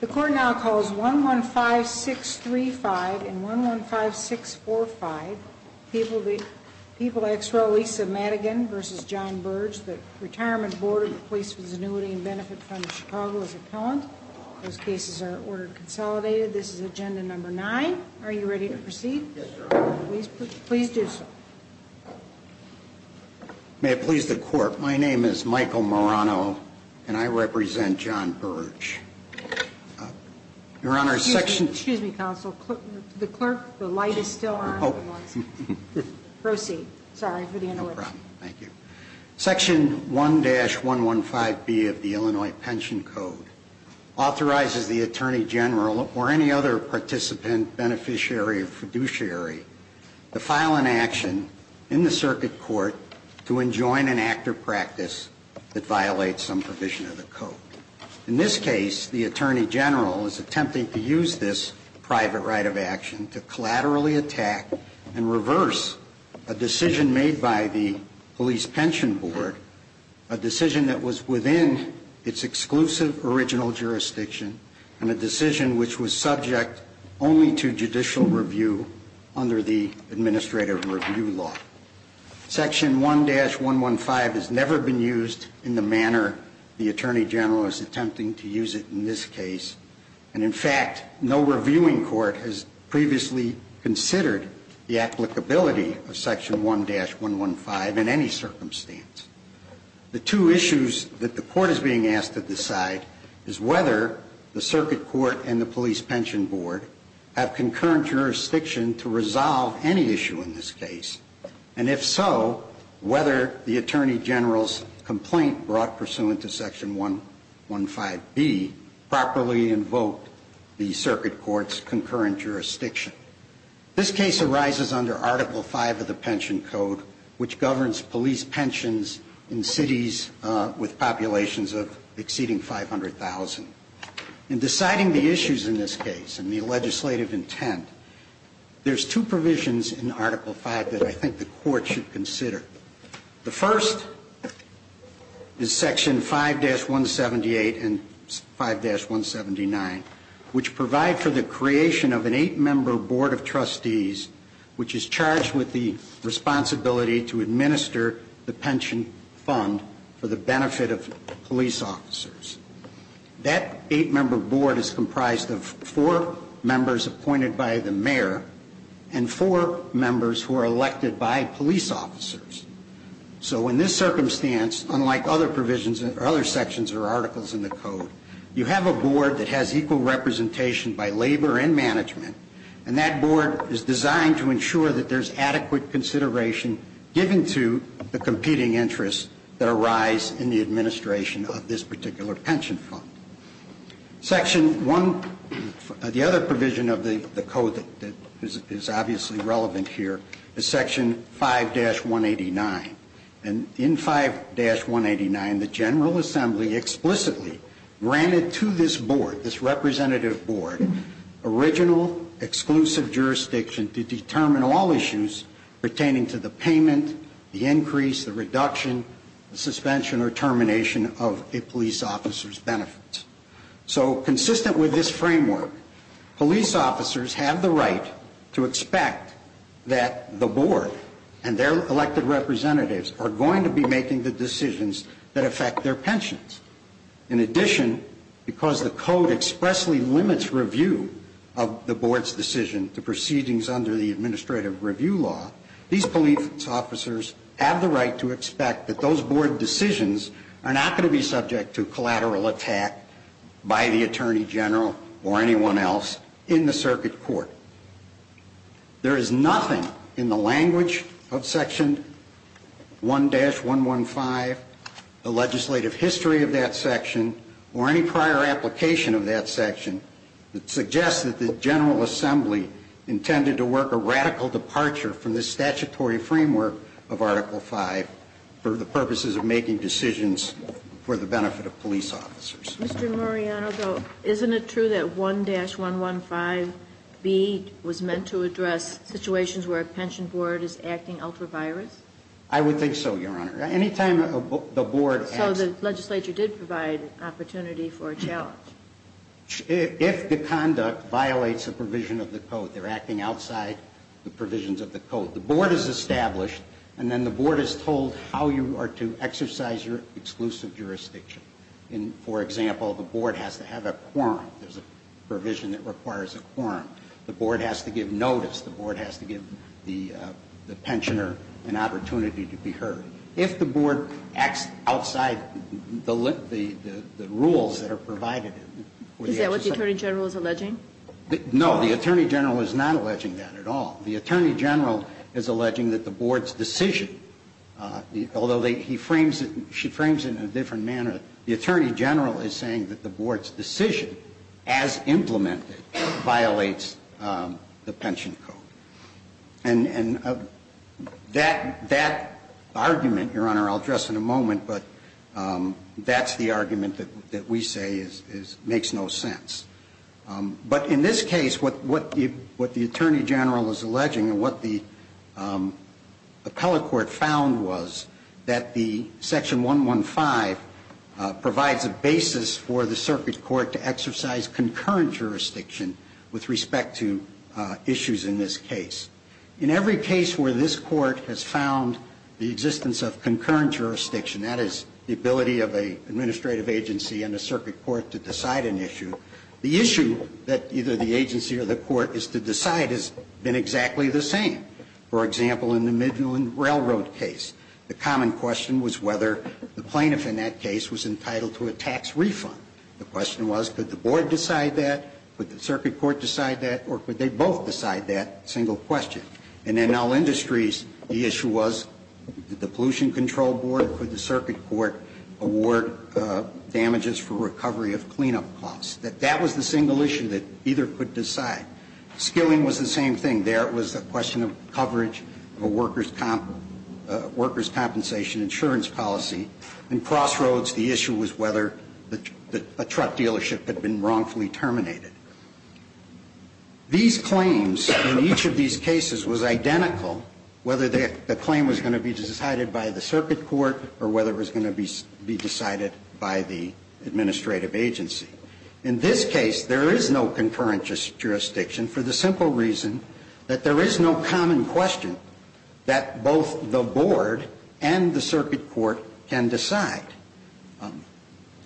The court now calls 1-1-5-6-3-5 and 1-1-5-6-4-5. People ex rel. Lisa Madigan v. John Burge. The Retirement Board of the Police Visitivity and Benefit Fund of Chicago is appellant. Those cases are ordered consolidated. This is Agenda Number 9. Are you ready to proceed? Yes, Your Honor. Please do so. May it please the Court. My name is Michael Marano, and I represent John Burge. Your Honor, Section Excuse me, counsel. The clerk, the light is still on. Oh. Proceed. Sorry for the interruption. No problem. Thank you. Section 1-115B of the Illinois Pension Code authorizes the Attorney General or any other participant, beneficiary, or fiduciary to file an action in the circuit court to enjoin an act or practice that violates some provision of the code. In this case, the Attorney General is attempting to use this private right of action to collaterally attack and reverse a decision made by the Police Pension Board, a decision that was within its exclusive original jurisdiction, and a decision which was subject only to judicial review under the Administrative Review Law. Section 1-115 has never been used in the manner the Attorney General is attempting to use it in this case, and, in fact, no reviewing court has previously considered the applicability of Section 1-115 in any circumstance. The two issues that the court is being asked to decide is whether the circuit court and the Police Pension Board have concurrent jurisdiction to resolve any issue in this case, and, if so, whether the Attorney General's complaint brought pursuant to Section 1-115B properly invoked the circuit court's concurrent jurisdiction. This case arises under Article V of the Pension Code, which governs police pensions in cities with populations of exceeding 500,000. In deciding the issues in this case and the legislative intent, there's two provisions in Article V that I think the court should consider. The first is Section 5-178 and 5-179, which provide for the creation of an eight-member board of trustees which is charged with the responsibility to administer the pension fund for the benefit of police officers. That eight-member board is comprised of four members appointed by the mayor and four members who are elected by police officers. So, in this circumstance, unlike other provisions or other sections or articles in the Code, you have a board that has equal representation by labor and management, and that board is designed to ensure that there's adequate consideration given to the competing interests that arise in the administration of this particular pension fund. Section 1, the other provision of the Code that is obviously relevant here, is Section 5-189. And in 5-189, the General Assembly explicitly granted to this board, this representative board, original exclusive jurisdiction to determine all issues pertaining to the payment, the increase, the reduction, the suspension or termination of a police officer's benefits. So, consistent with this framework, police officers have the right to expect that the board and their elected representatives are going to be making the decisions that affect their pensions. In addition, because the Code expressly limits review of the board's decision to proceedings under the Administrative Review Law, these police officers have the right to expect that those board decisions are not going to be subject to collateral attack by the Attorney General or anyone else in the circuit court. There is nothing in the language of Section 1-115, the legislative history of that section, or any prior application of that section that suggests that the General Assembly intended to work a radical departure from the statutory framework of Article 5 for the purposes of making decisions for the benefit of police officers. Mr. Mariano, though, isn't it true that 1-115B was meant to address situations where a pension board is acting ultra-virus? I would think so, Your Honor. Any time the board acts... So the legislature did provide an opportunity for a challenge. If the conduct violates a provision of the Code, they're acting outside the provisions of the Code. The board is established, and then the board is told how you are to exercise your exclusive jurisdiction. For example, the board has to have a quorum. There's a provision that requires a quorum. The board has to give notice. The board has to give the pensioner an opportunity to be heard. If the board acts outside the rules that are provided... Is that what the Attorney General is alleging? No. The Attorney General is not alleging that at all. The Attorney General is alleging that the board's decision, although he frames it, she frames it in a different manner. The Attorney General is saying that the board's decision, as implemented, violates the pension code. And that argument, Your Honor, I'll address in a moment, but that's the argument that we say makes no sense. But in this case, what the Attorney General is alleging and what the appellate court found was that the Section 115 provides a basis for the circuit court to exercise concurrent jurisdiction with respect to issues in this case. In every case where this court has found the existence of concurrent jurisdiction, that is the ability of an administrative agency and a circuit court to decide an issue, the issue that either the agency or the court is to decide has been exactly the same. For example, in the Midland Railroad case, the common question was whether the plaintiff in that case was entitled to a tax refund. The question was, could the board decide that? Could the circuit court decide that? Or could they both decide that? Single question. And in all industries, the issue was, did the pollution control board or could the circuit court award damages for recovery of cleanup costs? That that was the single issue that either could decide. Skilling was the same thing. There it was a question of coverage of a workers' compensation insurance policy. And crossroads, the issue was whether a truck dealership had been wrongfully terminated. These claims in each of these cases was identical, whether the claim was going to be decided by the circuit court or whether it was going to be decided by the administrative agency. In this case, there is no concurrent jurisdiction for the simple reason that there is no common question that both the board and the circuit court can decide.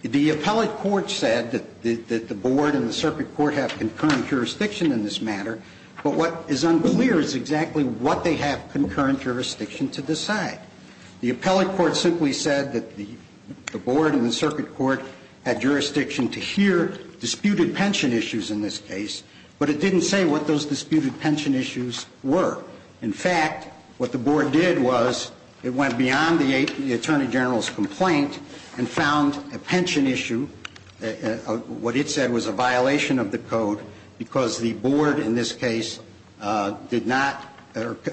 The appellate court said that the board and the circuit court have concurrent jurisdiction in this matter, but what is unclear is exactly what they have concurrent jurisdiction to decide. The appellate court simply said that the board and the circuit court had jurisdiction to hear disputed pension issues in this case, but it didn't say what those disputed pension issues were. In fact, what the board did was it went beyond the attorney general's complaint and found a pension issue, what it said was a violation of the code, because the board in this case did not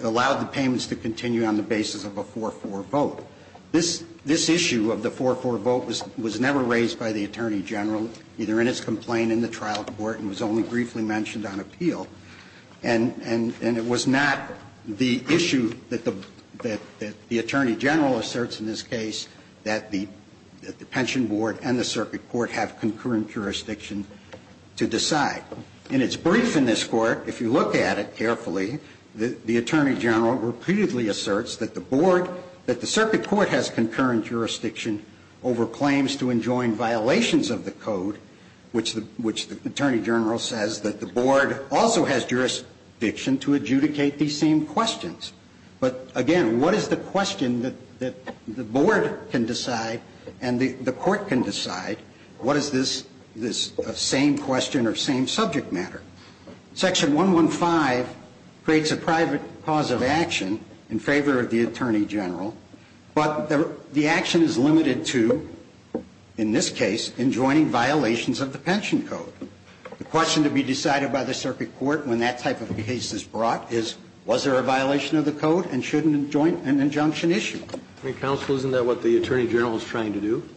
allow the payments to continue on the basis of a 4-4 vote. This issue of the 4-4 vote was never raised by the attorney general, either in its complaint in the trial court and was only briefly mentioned on appeal. And it was not the issue that the attorney general asserts in this case that the pension board and the circuit court have concurrent jurisdiction to decide. In its brief in this Court, if you look at it carefully, the attorney general repeatedly asserts that the board, that the circuit court has concurrent jurisdiction over claims to enjoin violations of the code, which the attorney general says that the board also has jurisdiction to adjudicate these same questions. But again, what is the question that the board can decide and the court can decide? What is this same question or same subject matter? Section 115 creates a private cause of action in favor of the attorney general, but the action is limited to, in this case, enjoining violations of the pension code. The question to be decided by the circuit court when that type of case is brought up is, was there a violation of the code and should an injunction issue? Counsel, isn't that what the attorney general is trying to do?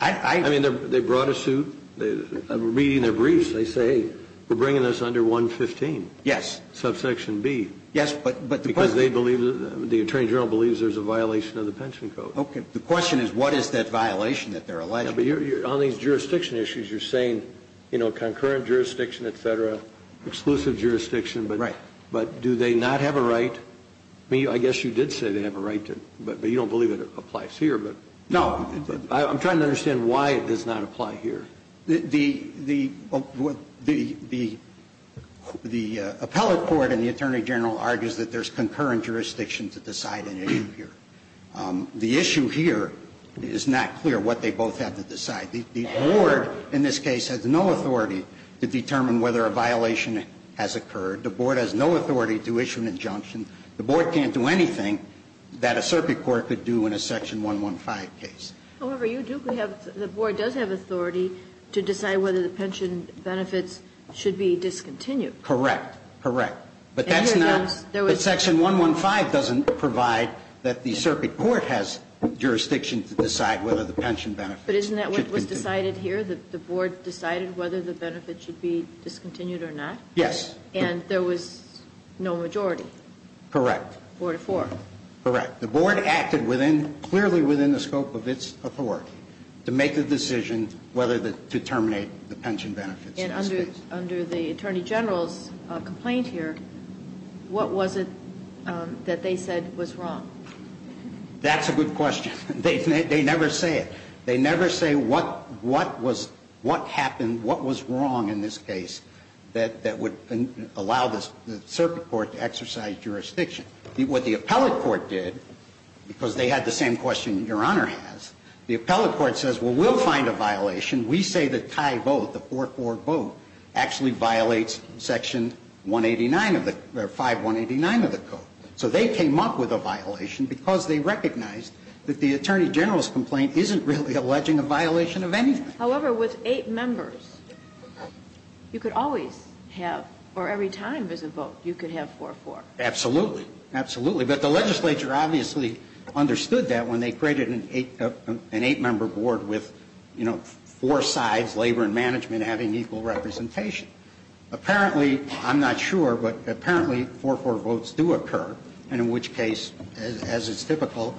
I mean, they brought a suit. Reading their briefs, they say, hey, we're bringing this under 115. Yes. Subsection B. Yes, but the question is the attorney general believes there's a violation of the pension code. Okay. The question is, what is that violation that they're alleging? On these jurisdiction issues, you're saying, you know, concurrent jurisdiction, et cetera, exclusive jurisdiction. Right. But do they not have a right? I guess you did say they have a right, but you don't believe it applies here. No. I'm trying to understand why it does not apply here. The appellate court and the attorney general argues that there's concurrent jurisdiction to decide an issue here. The issue here is not clear what they both have to decide. The board, in this case, has no authority to determine whether a violation has occurred. The board has no authority to issue an injunction. The board can't do anything that a Serpi court could do in a section 115 case. However, you do have the board does have authority to decide whether the pension benefits should be discontinued. Correct. Correct. But that's not. Section 115 doesn't provide that the Serpi court has jurisdiction to decide whether the pension benefits. But isn't that what was decided here, that the board decided whether the benefits should be discontinued or not? Yes. And there was no majority. Correct. Four to four. Correct. The board acted clearly within the scope of its authority to make the decision whether to terminate the pension benefits. And under the attorney general's complaint here, what was it that they said was wrong? That's a good question. They never say it. They never say what happened, what was wrong in this case that would allow the Serpi court to exercise jurisdiction. What the appellate court did, because they had the same question that Your Honor has, the appellate court says, well, we'll find a violation. We say the tie vote, the 4-4 vote, actually violates section 189 of the, or 5-189 of the code. So they came up with a violation because they recognized that the attorney general's complaint isn't really alleging a violation of anything. However, with eight members, you could always have, or every time there's a vote, you could have 4-4. Absolutely. Absolutely. But the legislature obviously understood that when they created an eight-member board with, you know, four sides, labor and management, having equal representation. Apparently, I'm not sure, but apparently 4-4 votes do occur, and in which case, as it's typical,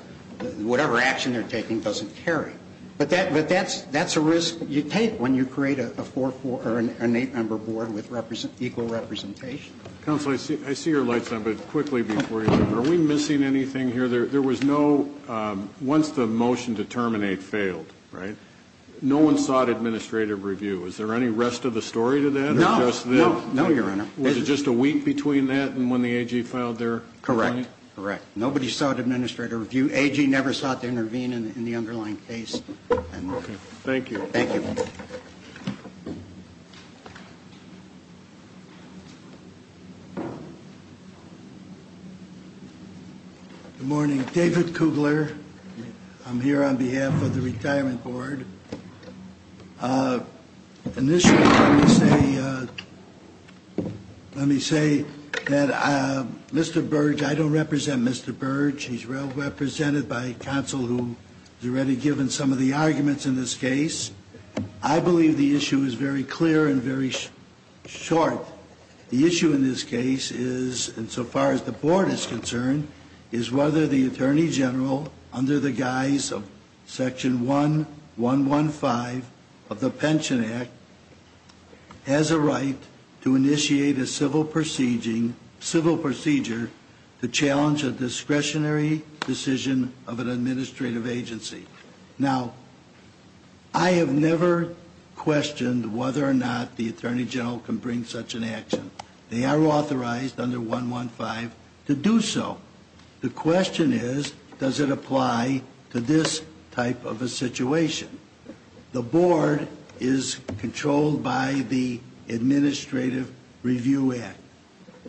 whatever action they're taking doesn't carry. But that's a risk you take when you create a 4-4 or an eight-member board with equal representation. Counsel, I see your light's on, but quickly before you leave, are we missing anything here? There was no, once the motion to terminate failed, right, no one sought administrative review. Is there any rest of the story to that? No. No, Your Honor. Was it just a week between that and when the AG filed their complaint? Correct. Correct. Nobody sought administrative review. AG never sought to intervene in the underlying case. Okay. Thank you. Thank you. Good morning. David Kugler. I'm here on behalf of the Retirement Board. Initially, let me say, let me say that Mr. Burge, I don't represent Mr. Burge. He's represented by counsel who has already given some of the arguments in this case. I believe the issue is very clear and very short. The issue in this case is, insofar as the Board is concerned, is whether the Attorney General, under section 1115 of the Pension Act, has a right to initiate a civil procedure to challenge a discretionary decision of an administrative agency. Now, I have never questioned whether or not the Attorney General can bring such an action. They are authorized under 115 to do so. The question is, does it apply to this type of a situation? The Board is controlled by the Administrative Review Act.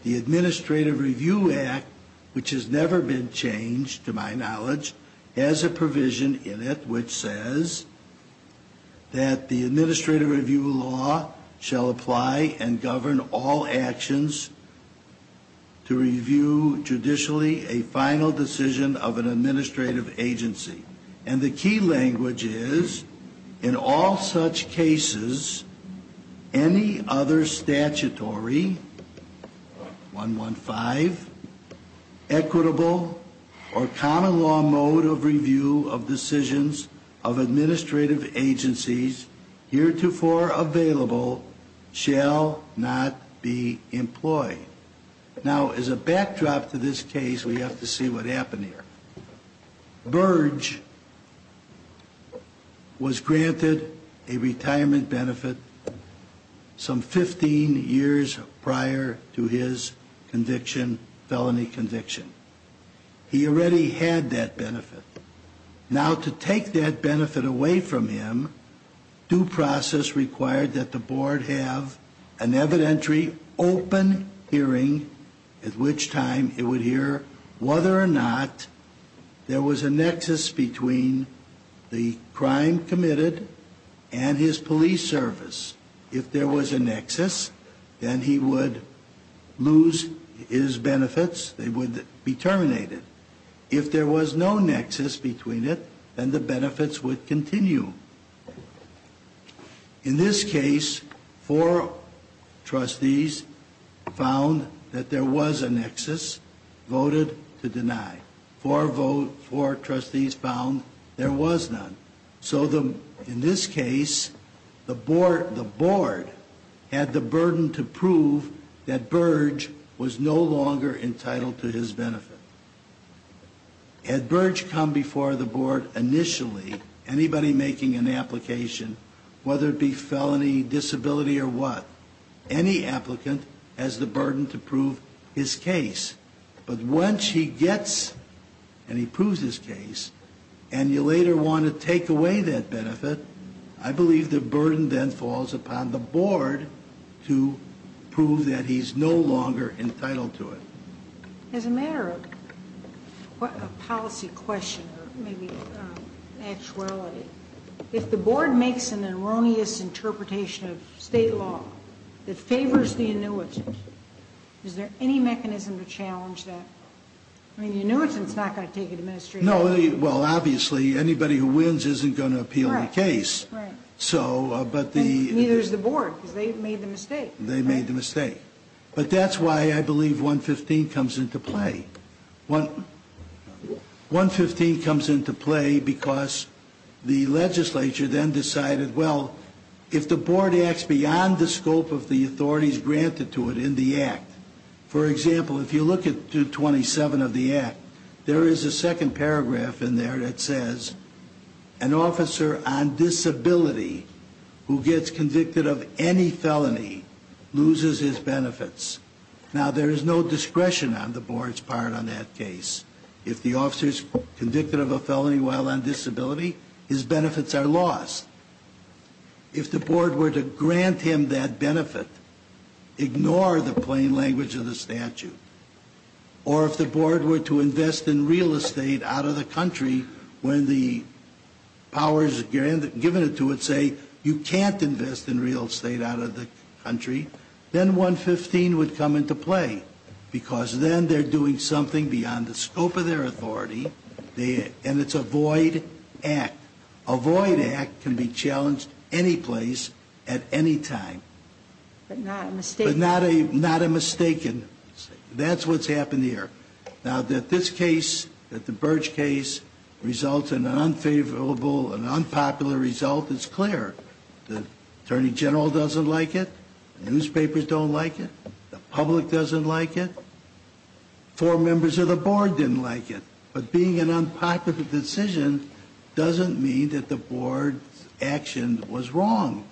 The Administrative Review Act, which has never been changed, to my knowledge, has a provision in it which says that the Administrative Review Law shall apply and govern all actions to review judicially a final decision of an administrative agency. And the key language is, in all such cases, any other statutory, 115, equitable, or common law mode of review of decisions of administrative agencies heretofore available shall not be employed. Now, as a backdrop to this case, we have to see what happened here. Burge was granted a retirement benefit some 15 years prior to his conviction, felony He already had that benefit. Now, to take that benefit away from him, due process required that the Board have an evidentiary, open hearing, at which time it would hear whether or not there was a nexus between the crime committed and his police service. If there was a nexus, then he would lose his benefits. They would be terminated. If there was no nexus between it, then the benefits would continue. In this case, four trustees found that there was a nexus, voted to deny. Four trustees found there was none. So, in this case, the Board had the burden to prove that Burge was no longer entitled to his benefit. Had Burge come before the Board initially, anybody making an application, whether it be felony, disability, or what, any applicant has the burden to prove his case. But once he gets and he proves his case, and you later want to take away that benefit, I believe the burden then falls upon the Board to prove that he's no longer entitled to it. As a matter of policy question, or maybe actuality, if the Board makes an erroneous interpretation of State law that favors the annuitant, is there any mechanism to challenge that? I mean, the annuitant's not going to take an administration. No. Well, obviously, anybody who wins isn't going to appeal the case. Right, right. So, but the ñ Neither is the Board, because they made the mistake. They made the mistake. But that's why I believe 115 comes into play. 115 comes into play because the legislature then decided, well, if the Board acts beyond the scope of the authorities granted to it in the Act, for example, if you look at 227 of the Act, there is a second paragraph in there that says, an officer on disability who gets convicted of any felony loses his benefits. Now, there is no discretion on the Board's part on that case. If the officer is convicted of a felony while on disability, his benefits are lost. If the Board were to grant him that benefit, ignore the plain language of the statute. Or if the Board were to invest in real estate out of the country when the powers given to it say you can't invest in real estate out of the country, then 115 would come into play, because then they're doing something beyond the scope of their authority, and it's a void Act. A void Act can be challenged any place at any time. But not a mistaken. That's what's happened here. Now, that this case, that the Birch case, results in an unfavorable and unpopular result is clear. The Attorney General doesn't like it. Newspapers don't like it. The public doesn't like it. Four members of the Board didn't like it. But being an unpopular decision doesn't mean that the Board's action was wrong.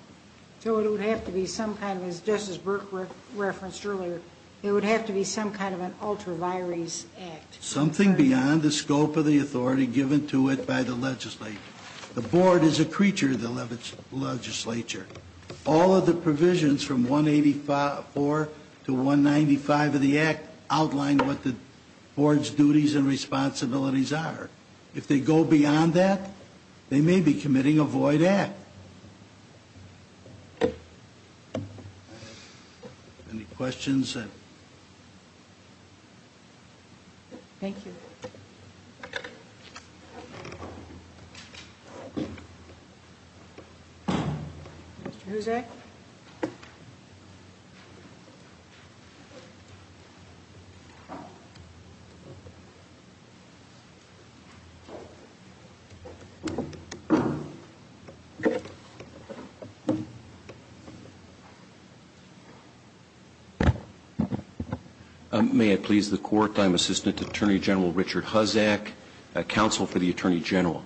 So it would have to be some kind of, just as Burke referenced earlier, it would have to be some kind of an ultra-virus Act. Something beyond the scope of the authority given to it by the legislature. The Board is a creature of the legislature. All of the provisions from 184 to 195 of the Act outline what the Board's duties and responsibilities are. If they go beyond that, they may be committing a void Act. Any questions? Thank you. Mr. Huzzack? May it please the Court, I'm Assistant Attorney General Richard Huzzack. Counsel for the Attorney General.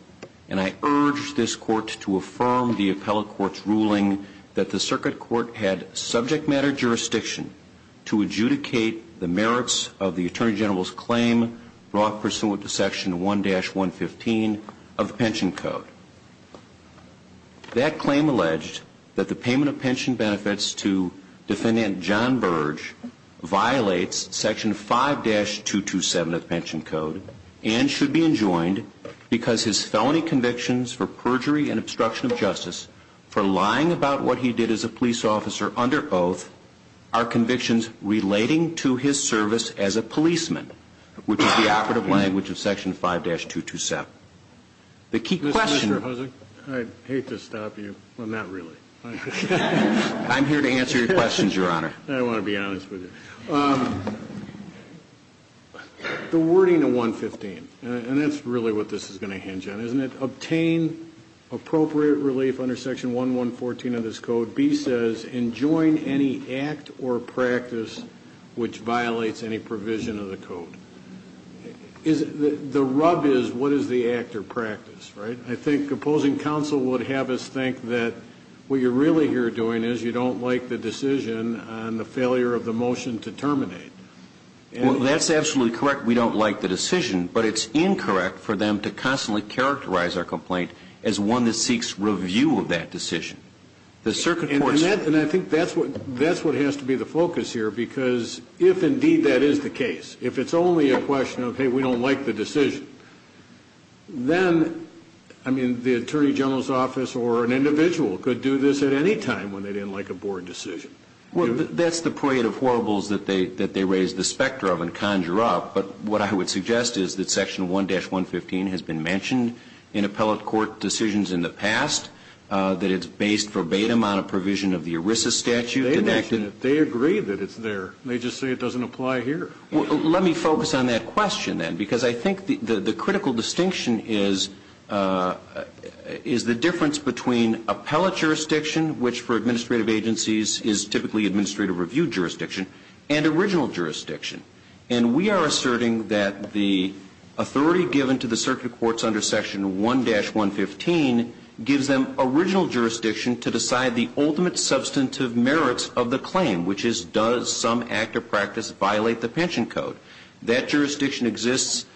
And I urge this Court to affirm the Appellate Court's ruling that the Circuit Court had subject matter jurisdiction to adjudicate the merits of the Attorney General's claim brought pursuant to Section 1-115 of the Pension Code. That claim alleged that the payment of pension benefits to Defendant John Birch violates Section 5-227 of the Pension Code and should be enjoined because his felony convictions for perjury and obstruction of justice for lying about what he did as a police officer under oath are convictions relating to his service as a policeman, which is the operative language of Section 5-227. Mr. Huzzack, I'd hate to stop you. Well, not really. I'm here to answer your questions, Your Honor. I want to be honest with you. The wording of 115, and that's really what this is going to hinge on, isn't it? Obtain appropriate relief under Section 1-114 of this Code, B says, enjoin any act or practice which violates any provision of the Code. The rub is what is the act or practice, right? I think opposing counsel would have us think that what you're really here doing is you don't like the decision on the failure of the motion to terminate. Well, that's absolutely correct. We don't like the decision. But it's incorrect for them to constantly characterize our complaint as one that seeks review of that decision. And I think that's what has to be the focus here, because if, indeed, that is the case, if it's only a question of, hey, we don't like the decision, then, I mean, the Attorney General's office or an individual could do this at any time when they didn't like a board decision. That's the parade of horribles that they raise the specter of and conjure up. But what I would suggest is that Section 1-115 has been mentioned in appellate court decisions in the past, that it's based verbatim on a provision of the ERISA statute. They mentioned it. They agree that it's there. They just say it doesn't apply here. Well, let me focus on that question, then, because I think the critical distinction is the difference between appellate jurisdiction, which for administrative agencies is typically administrative review jurisdiction, and original jurisdiction. And we are asserting that the authority given to the circuit courts under Section 1-115 gives them original jurisdiction to decide the ultimate substantive merits of the claim, which is does some act or practice violate the pension code. That jurisdiction exists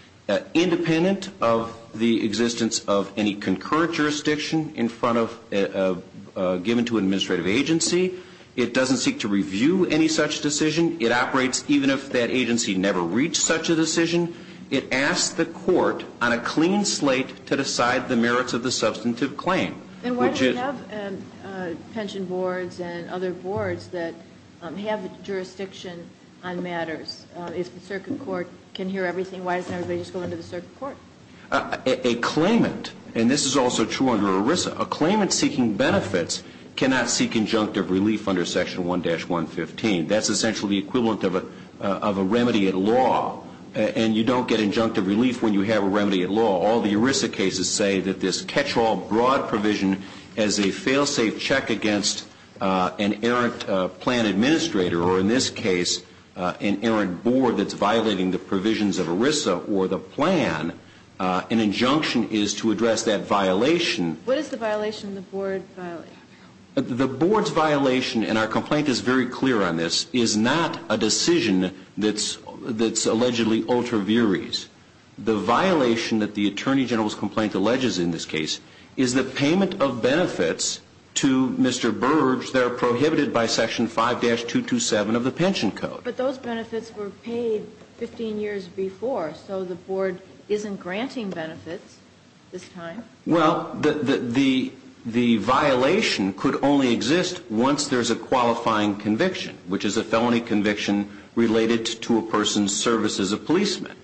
independent of the existence of any concurrent jurisdiction in front of, given to an administrative agency. It doesn't seek to review any such decision. It operates even if that agency never reached such a decision. It asks the court on a clean slate to decide the merits of the substantive claim. And why do we have pension boards and other boards that have jurisdiction on matters? If the circuit court can hear everything, why doesn't everybody just go into the circuit court? A claimant, and this is also true under ERISA, a claimant seeking benefits cannot seek injunctive relief under Section 1-115. That's essentially the equivalent of a remedy at law. And you don't get injunctive relief when you have a remedy at law. All the ERISA cases say that this catch-all broad provision as a fail-safe check against an errant plan administrator, or in this case, an errant board that's violating the provisions of ERISA or the plan, an injunction is to address that violation. What is the violation the board violated? The board's violation, and our complaint is very clear on this, is not a decision that's allegedly ultra viris. The violation that the Attorney General's complaint alleges in this case is the payment of benefits to Mr. Burge that are prohibited by Section 5-227 of the pension code. But those benefits were paid 15 years before, so the board isn't granting benefits this time? Well, the violation could only exist once there's a qualifying conviction, which is a felony conviction related to a person's service as a policeman.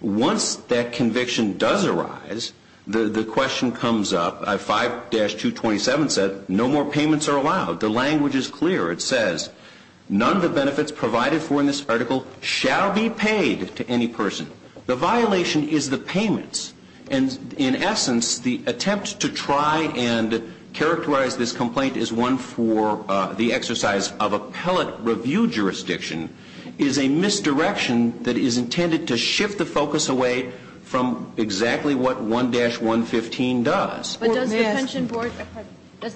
Once that conviction does arise, the question comes up. 5-227 said, no more payments are allowed. The language is clear. It says, none of the benefits provided for in this article shall be paid to any person. The violation is the payments. And in essence, the attempt to try and characterize this complaint is one for the board. It's a misdirection. It's a misdirection that is intended to shift the focus away from exactly what 1-115 does. But does the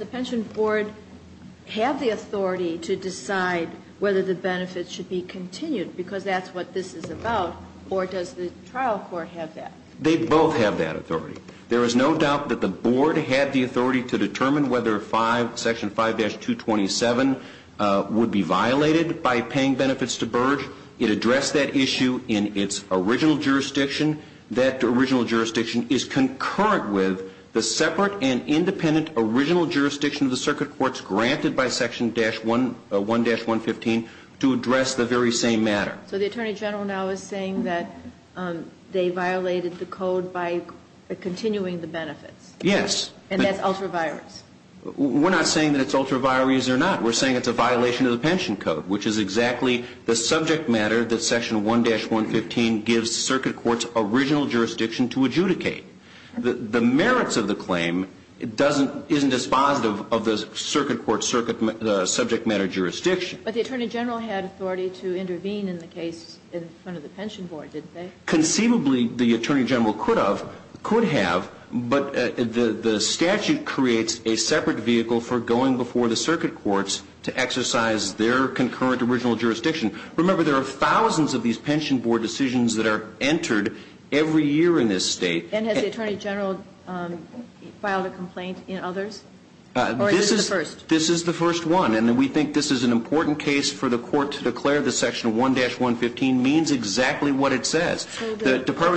pension board have the authority to decide whether the benefits should be continued, because that's what this is about, or does the trial court have that? They both have that authority. There is no doubt that the board had the authority to determine whether Section 5-227 would be violated by paying benefits to Burge. It addressed that issue in its original jurisdiction. That original jurisdiction is concurrent with the separate and independent original jurisdiction of the circuit courts granted by Section 1-115 to address the very same matter. So the Attorney General now is saying that they violated the code by continuing the benefits. Yes. And that's ultra-virus. We're not saying that it's ultra-virus or not. We're saying it's a violation of the pension code, which is exactly the subject matter that Section 1-115 gives circuit courts' original jurisdiction to adjudicate. The merits of the claim doesn't – isn't dispositive of the circuit court's subject matter jurisdiction. But the Attorney General had authority to intervene in the case in front of the pension board, didn't they? Conceivably, the Attorney General could have, but the statute creates a separate vehicle for going before the circuit courts to exercise their concurrent original jurisdiction. Remember, there are thousands of these pension board decisions that are entered every year in this state. And has the Attorney General filed a complaint in others? Or is this the first? This is the first one, and we think this is an important case for the court to The Department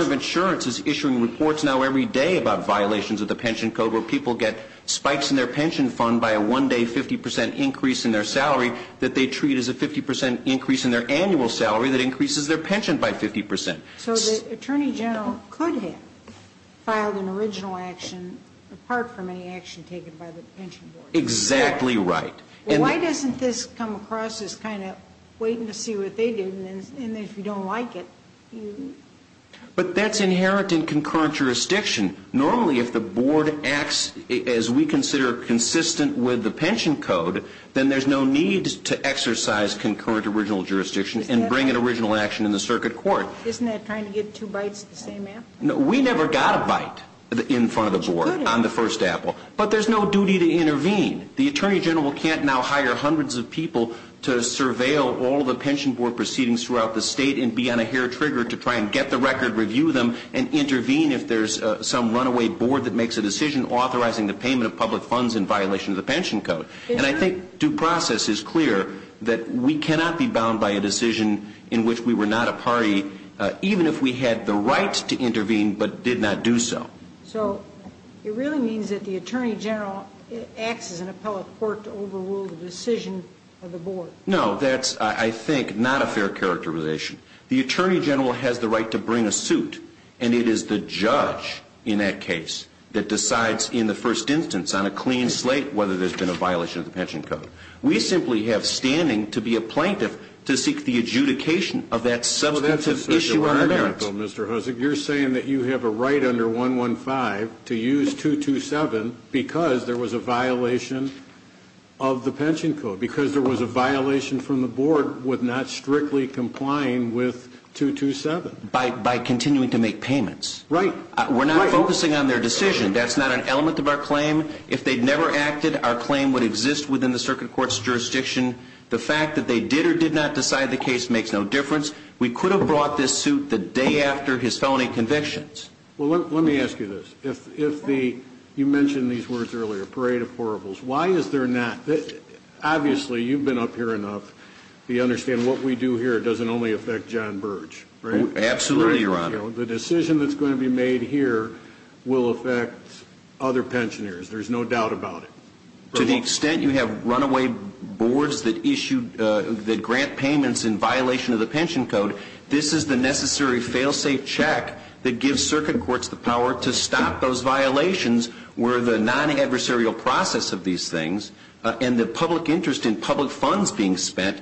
of Insurance is issuing reports now every day about violations of the pension code where people get spikes in their pension fund by a one-day 50 percent increase in their salary that they treat as a 50 percent increase in their annual salary that increases their pension by 50 percent. So the Attorney General could have filed an original action apart from any action taken by the pension board. Exactly right. Why doesn't this come across as kind of waiting to see what they do, and if you don't like it? But that's inherent in concurrent jurisdiction. Normally if the board acts as we consider consistent with the pension code, then there's no need to exercise concurrent original jurisdiction and bring an original action in the circuit court. Isn't that trying to get two bites at the same apple? No, we never got a bite in front of the board on the first apple. But there's no duty to intervene. The Attorney General can't now hire hundreds of people to surveil all the pension board proceedings throughout the state and be on a hair trigger to try and get the record, review them, and intervene if there's some runaway board that makes a decision authorizing the payment of public funds in violation of the pension code. And I think due process is clear that we cannot be bound by a decision in which we were not a party even if we had the right to intervene but did not do so. So it really means that the Attorney General acts as an appellate court to overrule the decision of the board. No, that's, I think, not a fair characterization. The Attorney General has the right to bring a suit, and it is the judge in that case that decides in the first instance on a clean slate whether there's been a violation of the pension code. We simply have standing to be a plaintiff to seek the adjudication of that substantive issue on our merits. So that's a special article, Mr. Hussock. You're saying that you have a right under 115 to use 227 because there was a violation from the board with not strictly complying with 227? By continuing to make payments. Right. We're not focusing on their decision. That's not an element of our claim. If they'd never acted, our claim would exist within the circuit court's jurisdiction. The fact that they did or did not decide the case makes no difference. We could have brought this suit the day after his felony convictions. Well, let me ask you this. You mentioned these words earlier, parade of horribles. Why is there not? Obviously, you've been up here enough to understand what we do here doesn't only affect John Birch, right? Absolutely, Your Honor. The decision that's going to be made here will affect other pensioners. There's no doubt about it. To the extent you have runaway boards that grant payments in violation of the pension code, this is the necessary fail-safe check that gives circuit courts the power to stop those violations where the non-adversarial process of these things and the public interest in public funds being spent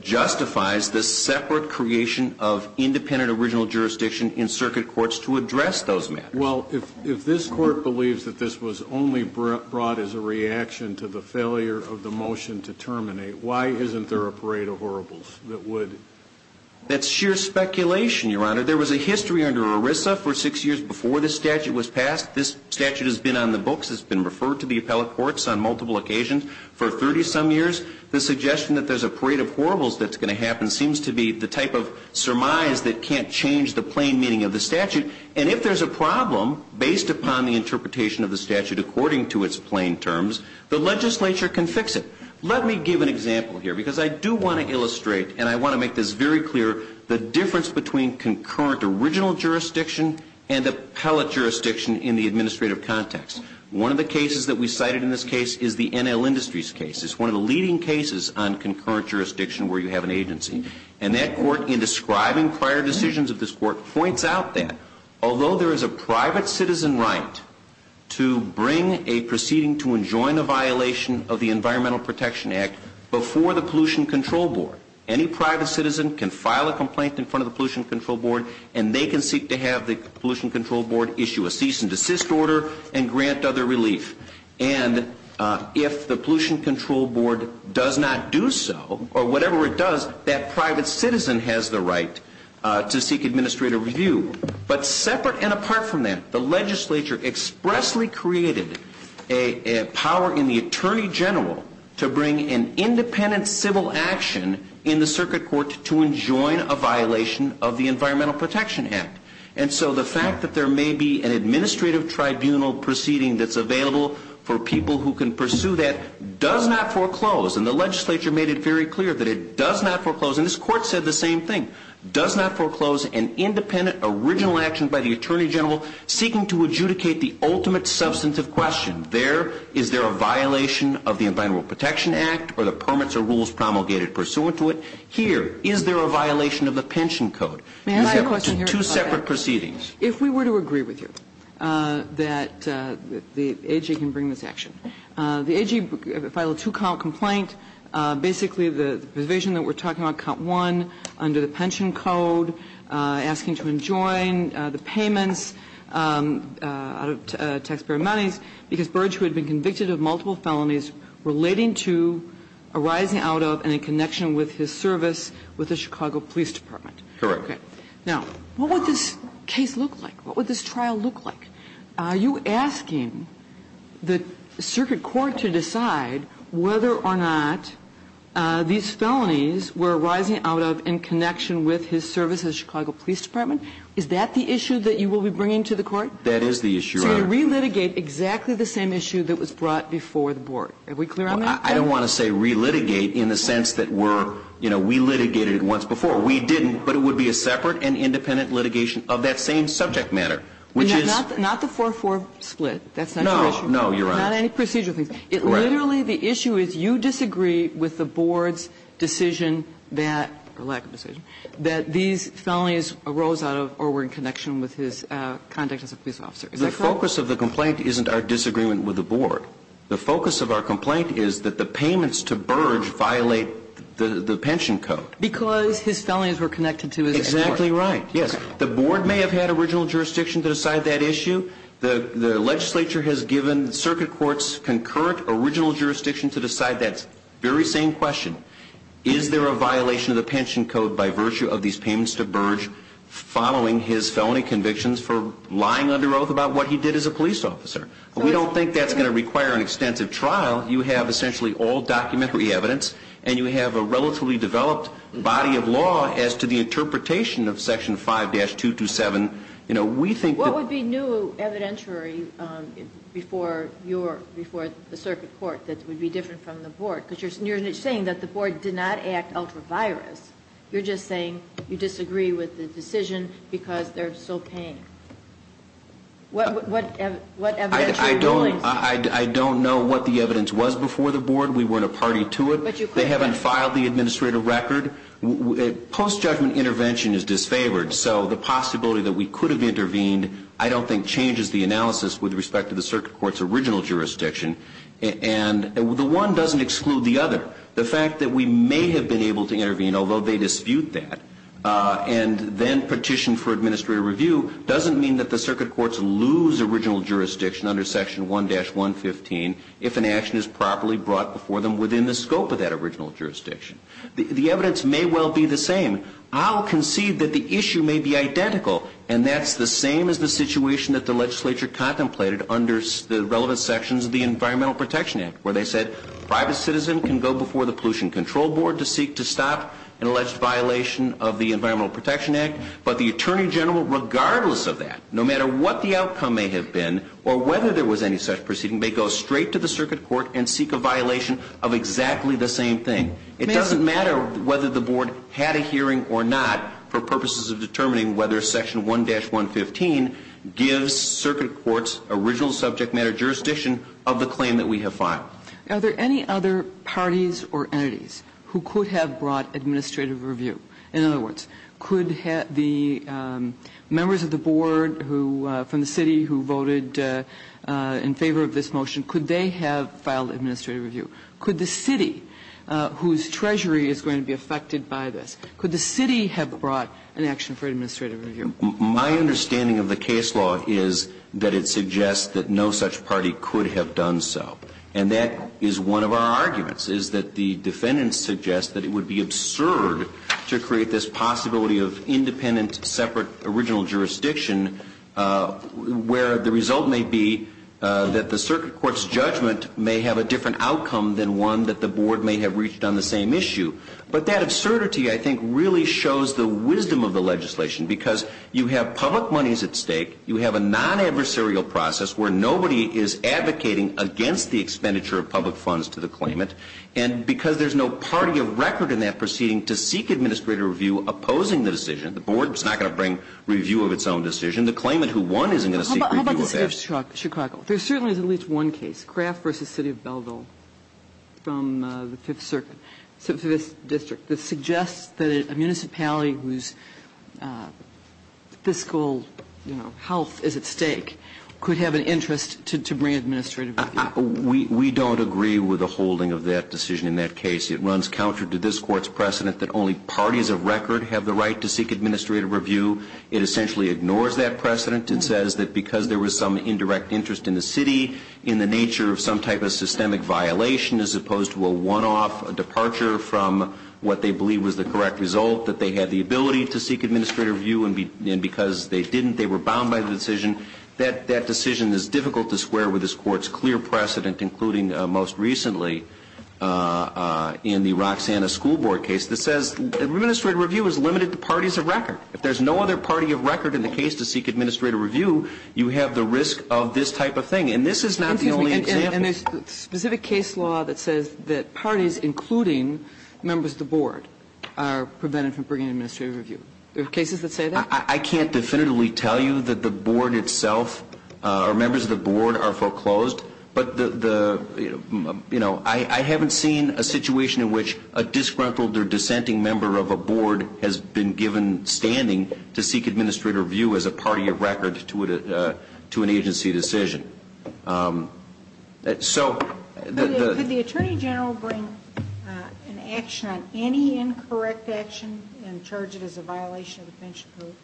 justifies the separate creation of independent original jurisdiction in circuit courts to address those matters. Well, if this Court believes that this was only brought as a reaction to the failure of the motion to terminate, why isn't there a parade of horribles that would? That's sheer speculation, Your Honor. There was a history under ERISA for six years before this statute was passed. This statute has been on the books. It's been referred to the appellate courts on multiple occasions for 30-some years. The suggestion that there's a parade of horribles that's going to happen seems to be the type of surmise that can't change the plain meaning of the statute. And if there's a problem based upon the interpretation of the statute according to its plain terms, the legislature can fix it. Let me give an example here because I do want to illustrate, and I want to make this very clear, the difference between concurrent original jurisdiction and appellate jurisdiction in the administrative context. One of the cases that we cited in this case is the NL Industries case. It's one of the leading cases on concurrent jurisdiction where you have an agency. And that court, in describing prior decisions of this court, points out that although there is a private citizen right to bring a proceeding to enjoin a violation of the Environmental Protection Act before the Pollution Control Board, any private citizen can file a complaint in front of the Pollution Control Board, issue a cease and desist order, and grant other relief. And if the Pollution Control Board does not do so, or whatever it does, that private citizen has the right to seek administrative review. But separate and apart from that, the legislature expressly created a power in the Attorney General to bring an independent civil action in the circuit court to enjoin a violation of the Environmental Protection Act. And so the fact that there may be an administrative tribunal proceeding that's available for people who can pursue that does not foreclose. And the legislature made it very clear that it does not foreclose. And this court said the same thing, does not foreclose an independent original action by the Attorney General seeking to adjudicate the ultimate substantive question. There, is there a violation of the Environmental Protection Act or the permits or rules promulgated pursuant to it? Here, is there a violation of the pension code? May I ask you a question here? Two separate proceedings. If we were to agree with you that the AG can bring this action. The AG filed a two-count complaint. Basically, the provision that we're talking about, count one, under the pension code, asking to enjoin the payments out of taxpayer monies because Burge, who had been convicted of multiple felonies relating to, arising out of, and in connection with his service with the Chicago Police Department. Correct. Now, what would this case look like? What would this trial look like? Are you asking the circuit court to decide whether or not these felonies were arising out of in connection with his service at the Chicago Police Department? Is that the issue that you will be bringing to the court? That is the issue, Your Honor. So you relitigate exactly the same issue that was brought before the board. Are we clear on that? I don't want to say relitigate in the sense that we're, you know, we litigated it once before. We didn't, but it would be a separate and independent litigation of that same subject matter, which is. Not the 4-4 split. That's not your issue. No, no, Your Honor. Not any procedural things. It literally, the issue is you disagree with the board's decision that, or lack of decision, that these felonies arose out of or were in connection with his conduct as a police officer. Is that correct? The focus of the complaint isn't our disagreement with the board. The focus of our complaint is that the payments to Burge violate the pension code. Because his felonies were connected to his. Exactly right. Yes. The board may have had original jurisdiction to decide that issue. The legislature has given circuit courts concurrent original jurisdiction to decide that very same question. Is there a violation of the pension code by virtue of these payments to Burge following his felony convictions for lying under oath about what he did as a police officer? We don't think that's going to require an extensive trial. You have essentially all documentary evidence. And you have a relatively developed body of law as to the interpretation of section 5-227. You know, we think that. What would be new evidentiary before your, before the circuit court that would be different from the board? Because you're saying that the board did not act ultra-virus. You're just saying you disagree with the decision because they're still paying. What evidentiary ruling? I don't know what the evidence was before the board. We weren't a party to it. They haven't filed the administrative record. Post-judgment intervention is disfavored. So the possibility that we could have intervened I don't think changes the analysis with respect to the circuit court's original jurisdiction. And the one doesn't exclude the other. The fact that we may have been able to intervene, although they dispute that, and then petition for administrative review doesn't mean that the circuit courts lose original jurisdiction under section 1-115 if an action is properly brought before them within the scope of that original jurisdiction. The evidence may well be the same. I'll concede that the issue may be identical, and that's the same as the situation that the legislature contemplated under the relevant sections of the Environmental Protection Act, where they said private citizen can go before the Pollution Control Board to seek to stop an alleged violation of the Environmental Protection Act, but the attorney general, regardless of that, no matter what the outcome may have been or whether there was any such proceeding, may go straight to the circuit court and seek a violation of exactly the same thing. It doesn't matter whether the Board had a hearing or not for purposes of determining whether section 1-115 gives circuit courts original subject matter jurisdiction of the claim that we have filed. Are there any other parties or entities who could have brought administrative review? In other words, could the members of the Board who, from the city who voted in favor of this motion, could they have filed administrative review? Could the city, whose treasury is going to be affected by this, could the city have brought an action for administrative review? My understanding of the case law is that it suggests that no such party could have done so. And that is one of our arguments, is that the defendants suggest that it would be absurd to create this possibility of independent, separate, original jurisdiction where the result may be that the circuit court's judgment may have a different outcome than one that the Board may have reached on the same issue. But that absurdity, I think, really shows the wisdom of the legislation because you have public monies at stake. You have a non-adversarial process where nobody is advocating against the expenditure of public funds to the claimant. And because there is no party of record in that proceeding to seek administrative review opposing the decision, the Board is not going to bring review of its own decision. The claimant who won isn't going to seek review of it. But how about the city of Chicago? There certainly is at least one case, Kraft v. City of Belleville, from the Fifth Circuit, Fifth District, that suggests that a municipality whose fiscal, you know, health is at stake could have an interest to bring administrative review. We don't agree with the holding of that decision in that case. It runs counter to this Court's precedent that only parties of record have the right to seek administrative review. It essentially ignores that precedent and says that because there was some indirect interest in the city in the nature of some type of systemic violation as opposed to a one-off departure from what they believe was the correct result, that they had the ability to seek administrative review. And because they didn't, they were bound by the decision. And that decision is difficult to square with this Court's clear precedent, including most recently in the Roxanna School Board case, that says administrative review is limited to parties of record. If there's no other party of record in the case to seek administrative review, you have the risk of this type of thing. And this is not the only example. And there's specific case law that says that parties, including members of the Board, are prevented from bringing administrative review. There are cases that say that? I can't definitively tell you that the Board itself or members of the Board are foreclosed, but, you know, I haven't seen a situation in which a disgruntled or dissenting member of a Board has been given standing to seek administrative review as a party of record to an agency decision. Could the Attorney General bring an action on any incorrect action and charge it as a violation of the Pension Code?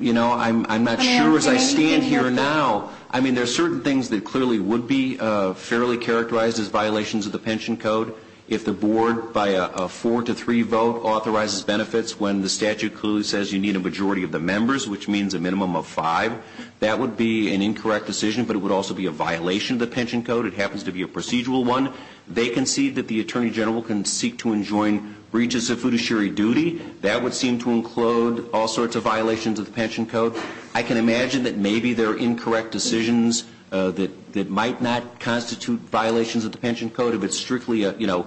You know, I'm not sure as I stand here now. I mean, there are certain things that clearly would be fairly characterized as violations of the Pension Code. If the Board, by a four to three vote, authorizes benefits when the statute clearly says you need a majority of the members, which means a minimum of five, that would be an incorrect decision, but it would also be a violation of the Pension Code. It happens to be a procedural one. They concede that the Attorney General can seek to enjoin breaches of fiduciary duty. That would seem to include all sorts of violations of the Pension Code. I can imagine that maybe there are incorrect decisions that might not constitute violations of the Pension Code if it's strictly, you know,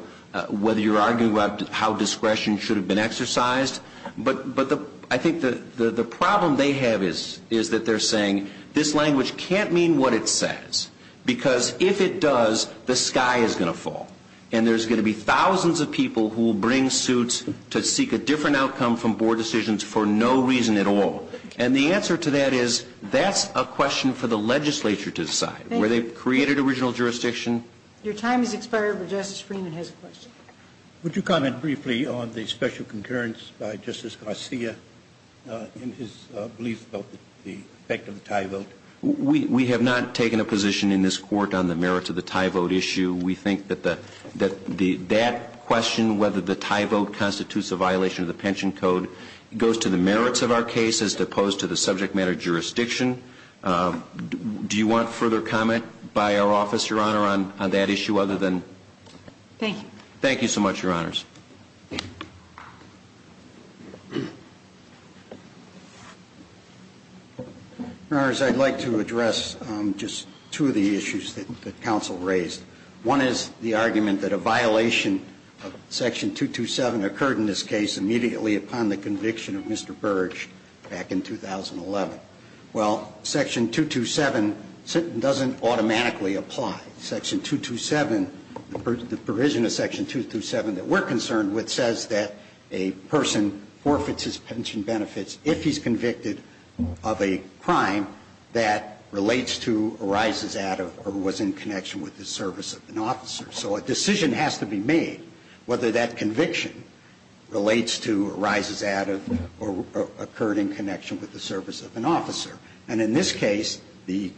whether you're arguing about how discretion should have been exercised. But I think the problem they have is that they're saying this language can't mean what it says. Because if it does, the sky is going to fall. And there's going to be thousands of people who will bring suits to seek a different outcome from Board decisions for no reason at all. And the answer to that is that's a question for the legislature to decide, where they've created original jurisdiction. Your time has expired, but Justice Freeman has a question. Would you comment briefly on the special concurrence by Justice Garcia in his belief about the effect of the tie vote? We have not taken a position in this court on the merits of the tie vote issue. We think that that question, whether the tie vote constitutes a violation of the Pension Code, goes to the merits of our case as opposed to the subject matter jurisdiction. Do you want further comment by our office, Your Honor, on that issue other than Thank you. Thank you so much, Your Honors. Your Honors, I'd like to address just two of the issues that counsel raised. One is the argument that a violation of Section 227 occurred in this case immediately upon the conviction of Mr. Burge back in 2011. Well, Section 227 doesn't automatically apply. Section 227, the provision of Section 227 that we're concerned about, is not concerned with, says that a person forfeits his pension benefits if he's convicted of a crime that relates to, arises out of, or was in connection with the service of an officer. So a decision has to be made whether that conviction relates to, arises out of, or occurred in connection with the service of an officer. And in this case, the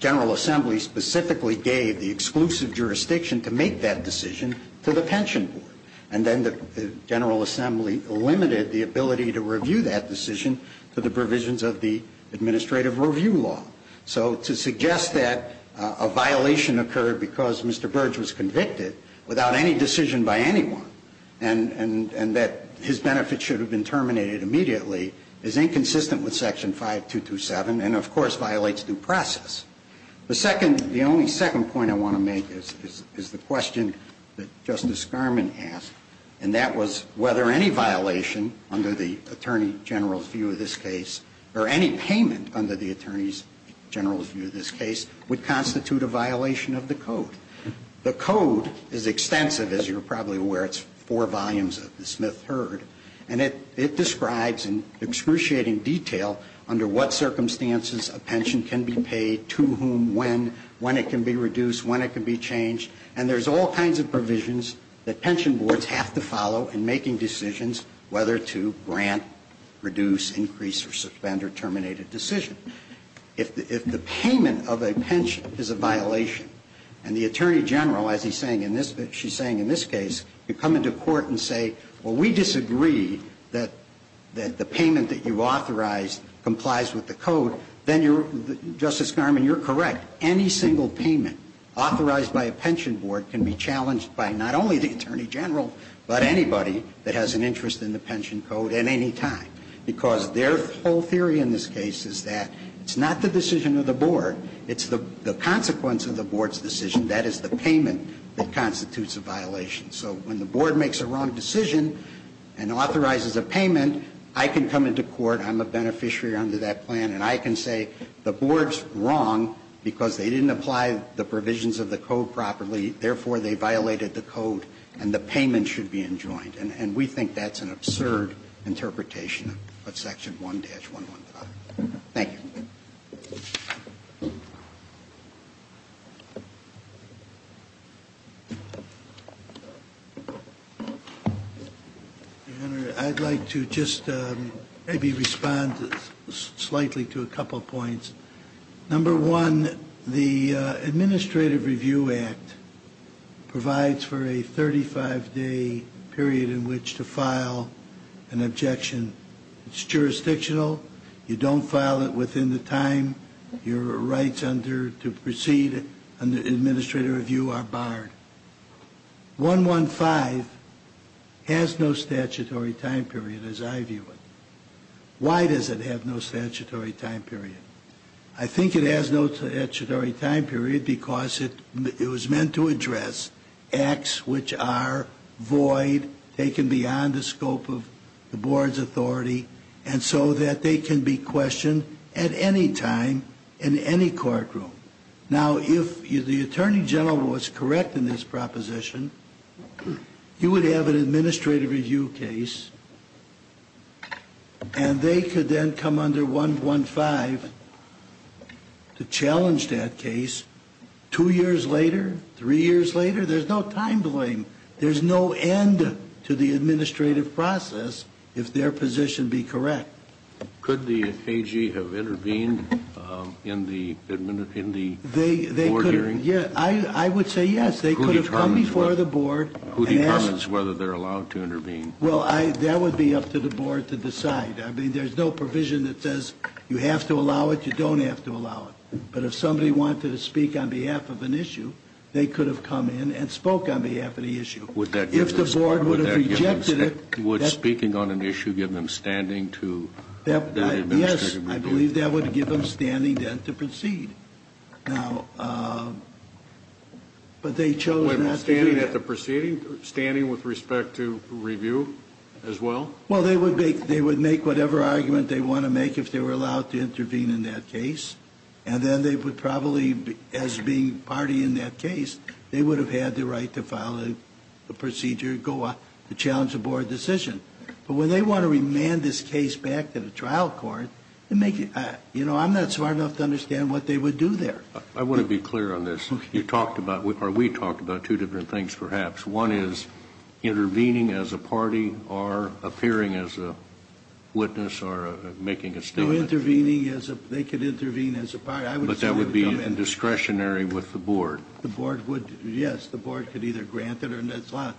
General Assembly specifically gave the exclusive jurisdiction to make that decision to the pension board. And then the General Assembly limited the ability to review that decision to the provisions of the administrative review law. So to suggest that a violation occurred because Mr. Burge was convicted without any decision by anyone and that his benefits should have been terminated immediately is inconsistent with Section 5227 and, of course, violates due process. The second, the only second point I want to make is the question that Justice Garmon asked. And that was whether any violation under the Attorney General's view of this case or any payment under the Attorney General's view of this case would constitute a violation of the Code. The Code is extensive, as you're probably aware. It's four volumes of the Smith-Hurd. And it describes in excruciating detail under what circumstances a pension can be paid to whom, when, when it can be reduced, when it can be changed. And there's all kinds of provisions that pension boards have to follow in making decisions whether to grant, reduce, increase, or suspend or terminate a decision. If the payment of a pension is a violation and the Attorney General, as he's saying in this case, she's saying in this case, you come into court and say, well, we disagree that the payment that you authorized complies with the Code, then you're, Justice Garmon, you're correct. Any single payment authorized by a pension board can be challenged by not only the Attorney General, but anybody that has an interest in the pension Code at any time. Because their whole theory in this case is that it's not the decision of the board, it's the consequence of the board's decision, that is the payment that constitutes a violation. So when the board makes a wrong decision and authorizes a payment, I can come into court, I'm a beneficiary under that plan, and I can say the board's wrong because they didn't apply the provisions of the Code properly, therefore they violated the Code and the payment should be enjoined. And we think that's an absurd interpretation of Section 1-115. Thank you. I'd like to just maybe respond slightly to a couple points. Number one, the Administrative Review Act provides for a 35-day period in which to file an objection. It's jurisdictional. You don't file it within the time your rights under to proceed under Administrative Review are barred. 1-1-5 has no statutory time period as I view it. Why does it have no statutory time period? I think it has no statutory time period because it was meant to address acts which are void, taken beyond the scope of the board's authority, and so that they can be questioned at any time in any courtroom. Now, if the Attorney General was correct in this proposition, you would have an Administrative Review case, and they could then come under 1-1-5 to challenge that case. Two years later, three years later, there's no time blame. There's no end to the administrative process if their position be correct. Could the AG have intervened in the board hearing? I would say yes. They could have come before the board and asked. Who determines whether they're allowed to intervene? Well, that would be up to the board to decide. I mean, there's no provision that says you have to allow it, you don't have to allow it. But if somebody wanted to speak on behalf of an issue, they could have come in and spoke on behalf of the issue. If the board would have rejected it... Would speaking on an issue give them standing to do the administrative review? Yes. I believe that would give them standing then to proceed. Now, but they chose not to do that. Standing with respect to review as well? Well, they would make whatever argument they want to make if they were allowed to and then they would probably, as being party in that case, they would have had the right to file a procedure to challenge a board decision. But when they want to remand this case back to the trial court, I'm not smart enough to understand what they would do there. I want to be clear on this. You talked about, or we talked about, two different things perhaps. One is intervening as a party or appearing as a witness or making a statement. They could intervene as a party. But that would be discretionary with the board. Yes, the board could either grant it or not.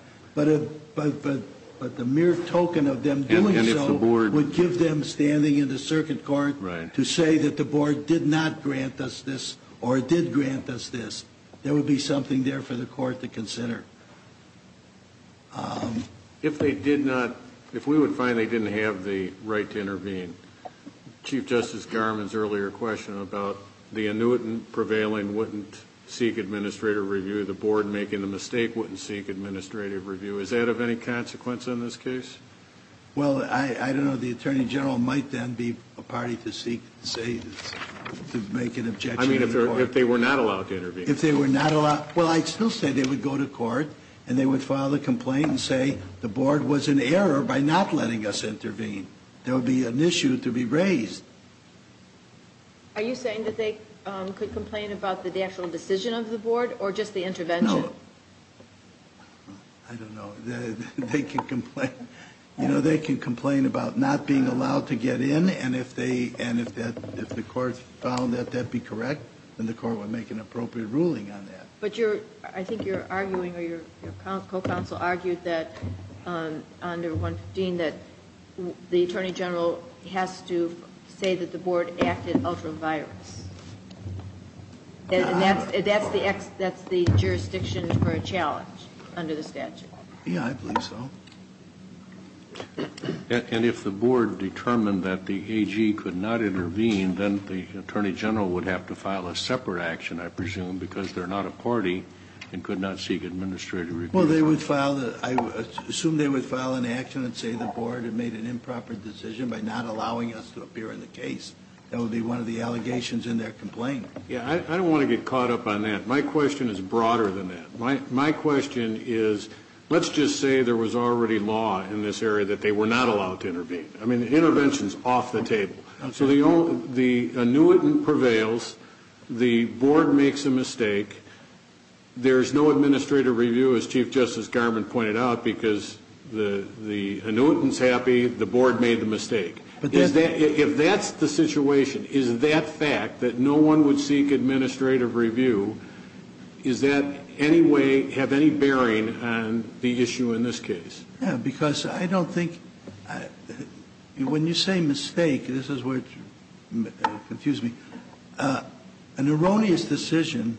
But the mere token of them doing so would give them standing in the circuit court to say that the board did not grant us this or did grant us this. There would be something there for the court to consider. If they did not, if we would find they didn't have the right to intervene, Chief Justice Garmon's earlier question about the annuitant prevailing wouldn't seek administrative review, the board making the mistake wouldn't seek administrative review, is that of any consequence in this case? Well, I don't know. The Attorney General might then be a party to make an objection. I mean, if they were not allowed to intervene. If they were not allowed. Well, I'd still say they would go to court and they would file a complaint and say the board was in error by not letting us intervene. There would be an issue to be raised. Are you saying that they could complain about the actual decision of the board or just the intervention? No. I don't know. They can complain. You know, they can complain about not being allowed to get in, and if the court found that that be correct, then the court would make an appropriate ruling on that. But I think you're arguing or your co-counsel argued that under 115, that the Attorney General has to say that the board acted ultra-virus. And that's the jurisdiction for a challenge under the statute. Yeah, I believe so. And if the board determined that the AG could not intervene, then the Attorney General would have to file a separate action, I presume, because they're not a party and could not seek administrative review. Well, I assume they would file an action and say the board had made an improper decision by not allowing us to appear in the case. That would be one of the allegations in their complaint. Yeah, I don't want to get caught up on that. My question is broader than that. My question is let's just say there was already law in this area that they were not allowed to intervene. I mean, the intervention is off the table. So the annuitant prevails, the board makes a mistake, there's no administrative review, as Chief Justice Garmon pointed out, because the annuitant's happy, the board made the mistake. If that's the situation, is that fact that no one would seek administrative review, does that have any bearing on the issue in this case? Yeah, because I don't think when you say mistake, this is where it confuses me. An erroneous decision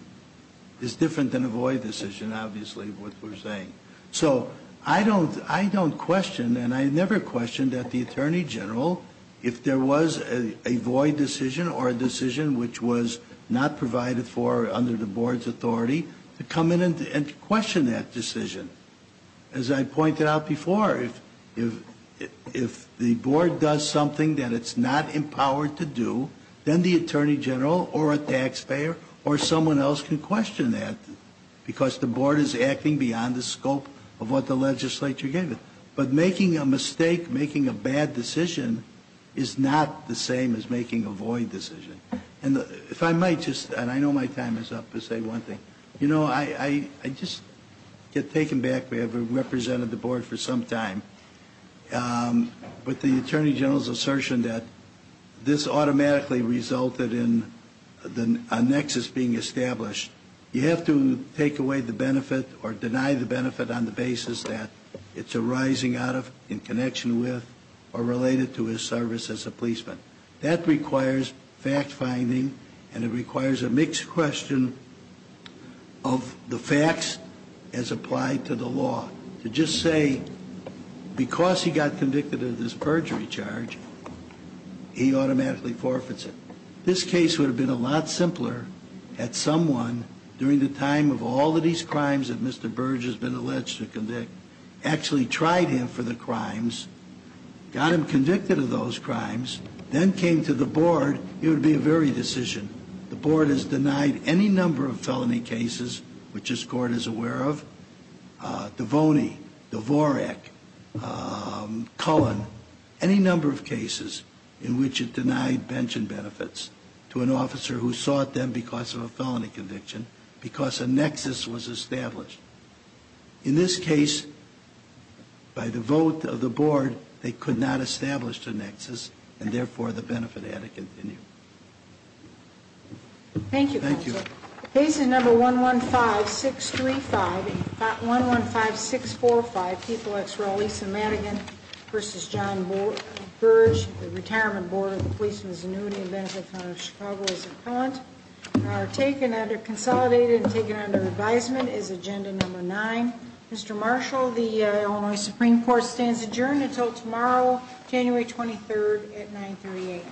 is different than a void decision, obviously, is what we're saying. So I don't question, and I never questioned at the Attorney General, if there was a void decision or a decision which was not provided for under the board's authority, to come in and question that decision. As I pointed out before, if the board does something that it's not empowered to do, then the Attorney General or a taxpayer or someone else can question that because the board is acting beyond the scope of what the legislature gave it. But making a mistake, making a bad decision, is not the same as making a void decision. And if I might just, and I know my time is up to say one thing, you know, I just get taken back. We have represented the board for some time. But the Attorney General's assertion that this automatically resulted in a nexus being established, you have to take away the benefit or deny the benefit on the basis that it's arising out of, in connection with, or related to his service as a policeman. That requires fact-finding and it requires a mixed question of the facts as applied to the law. To just say, because he got convicted of this perjury charge, he automatically forfeits it. This case would have been a lot simpler had someone, during the time of all of these crimes that Mr. Burge has been alleged to convict, actually tried him for the crimes, got him convicted of those crimes, then came to the board, it would be a varied decision. The board has denied any number of felony cases, which this court is aware of, Devoney, Dvorak, Cullen, any number of cases in which it denied pension benefits to an officer who sought them because of a felony conviction, because a nexus was established. In this case, by the vote of the board, they could not establish the nexus, and therefore the benefit had to continue. Thank you, counsel. Thank you. Cases number 115-635, 115-645, Peoples v. Lisa Madigan v. John Burge, the Retirement Board of the Policeman's Annuity and Benefit Fund of Chicago as an Appellant, are taken under, consolidated and taken under advisement is agenda number nine. Mr. Marshall, the Illinois Supreme Court stands adjourned until tomorrow, January 23rd at 938.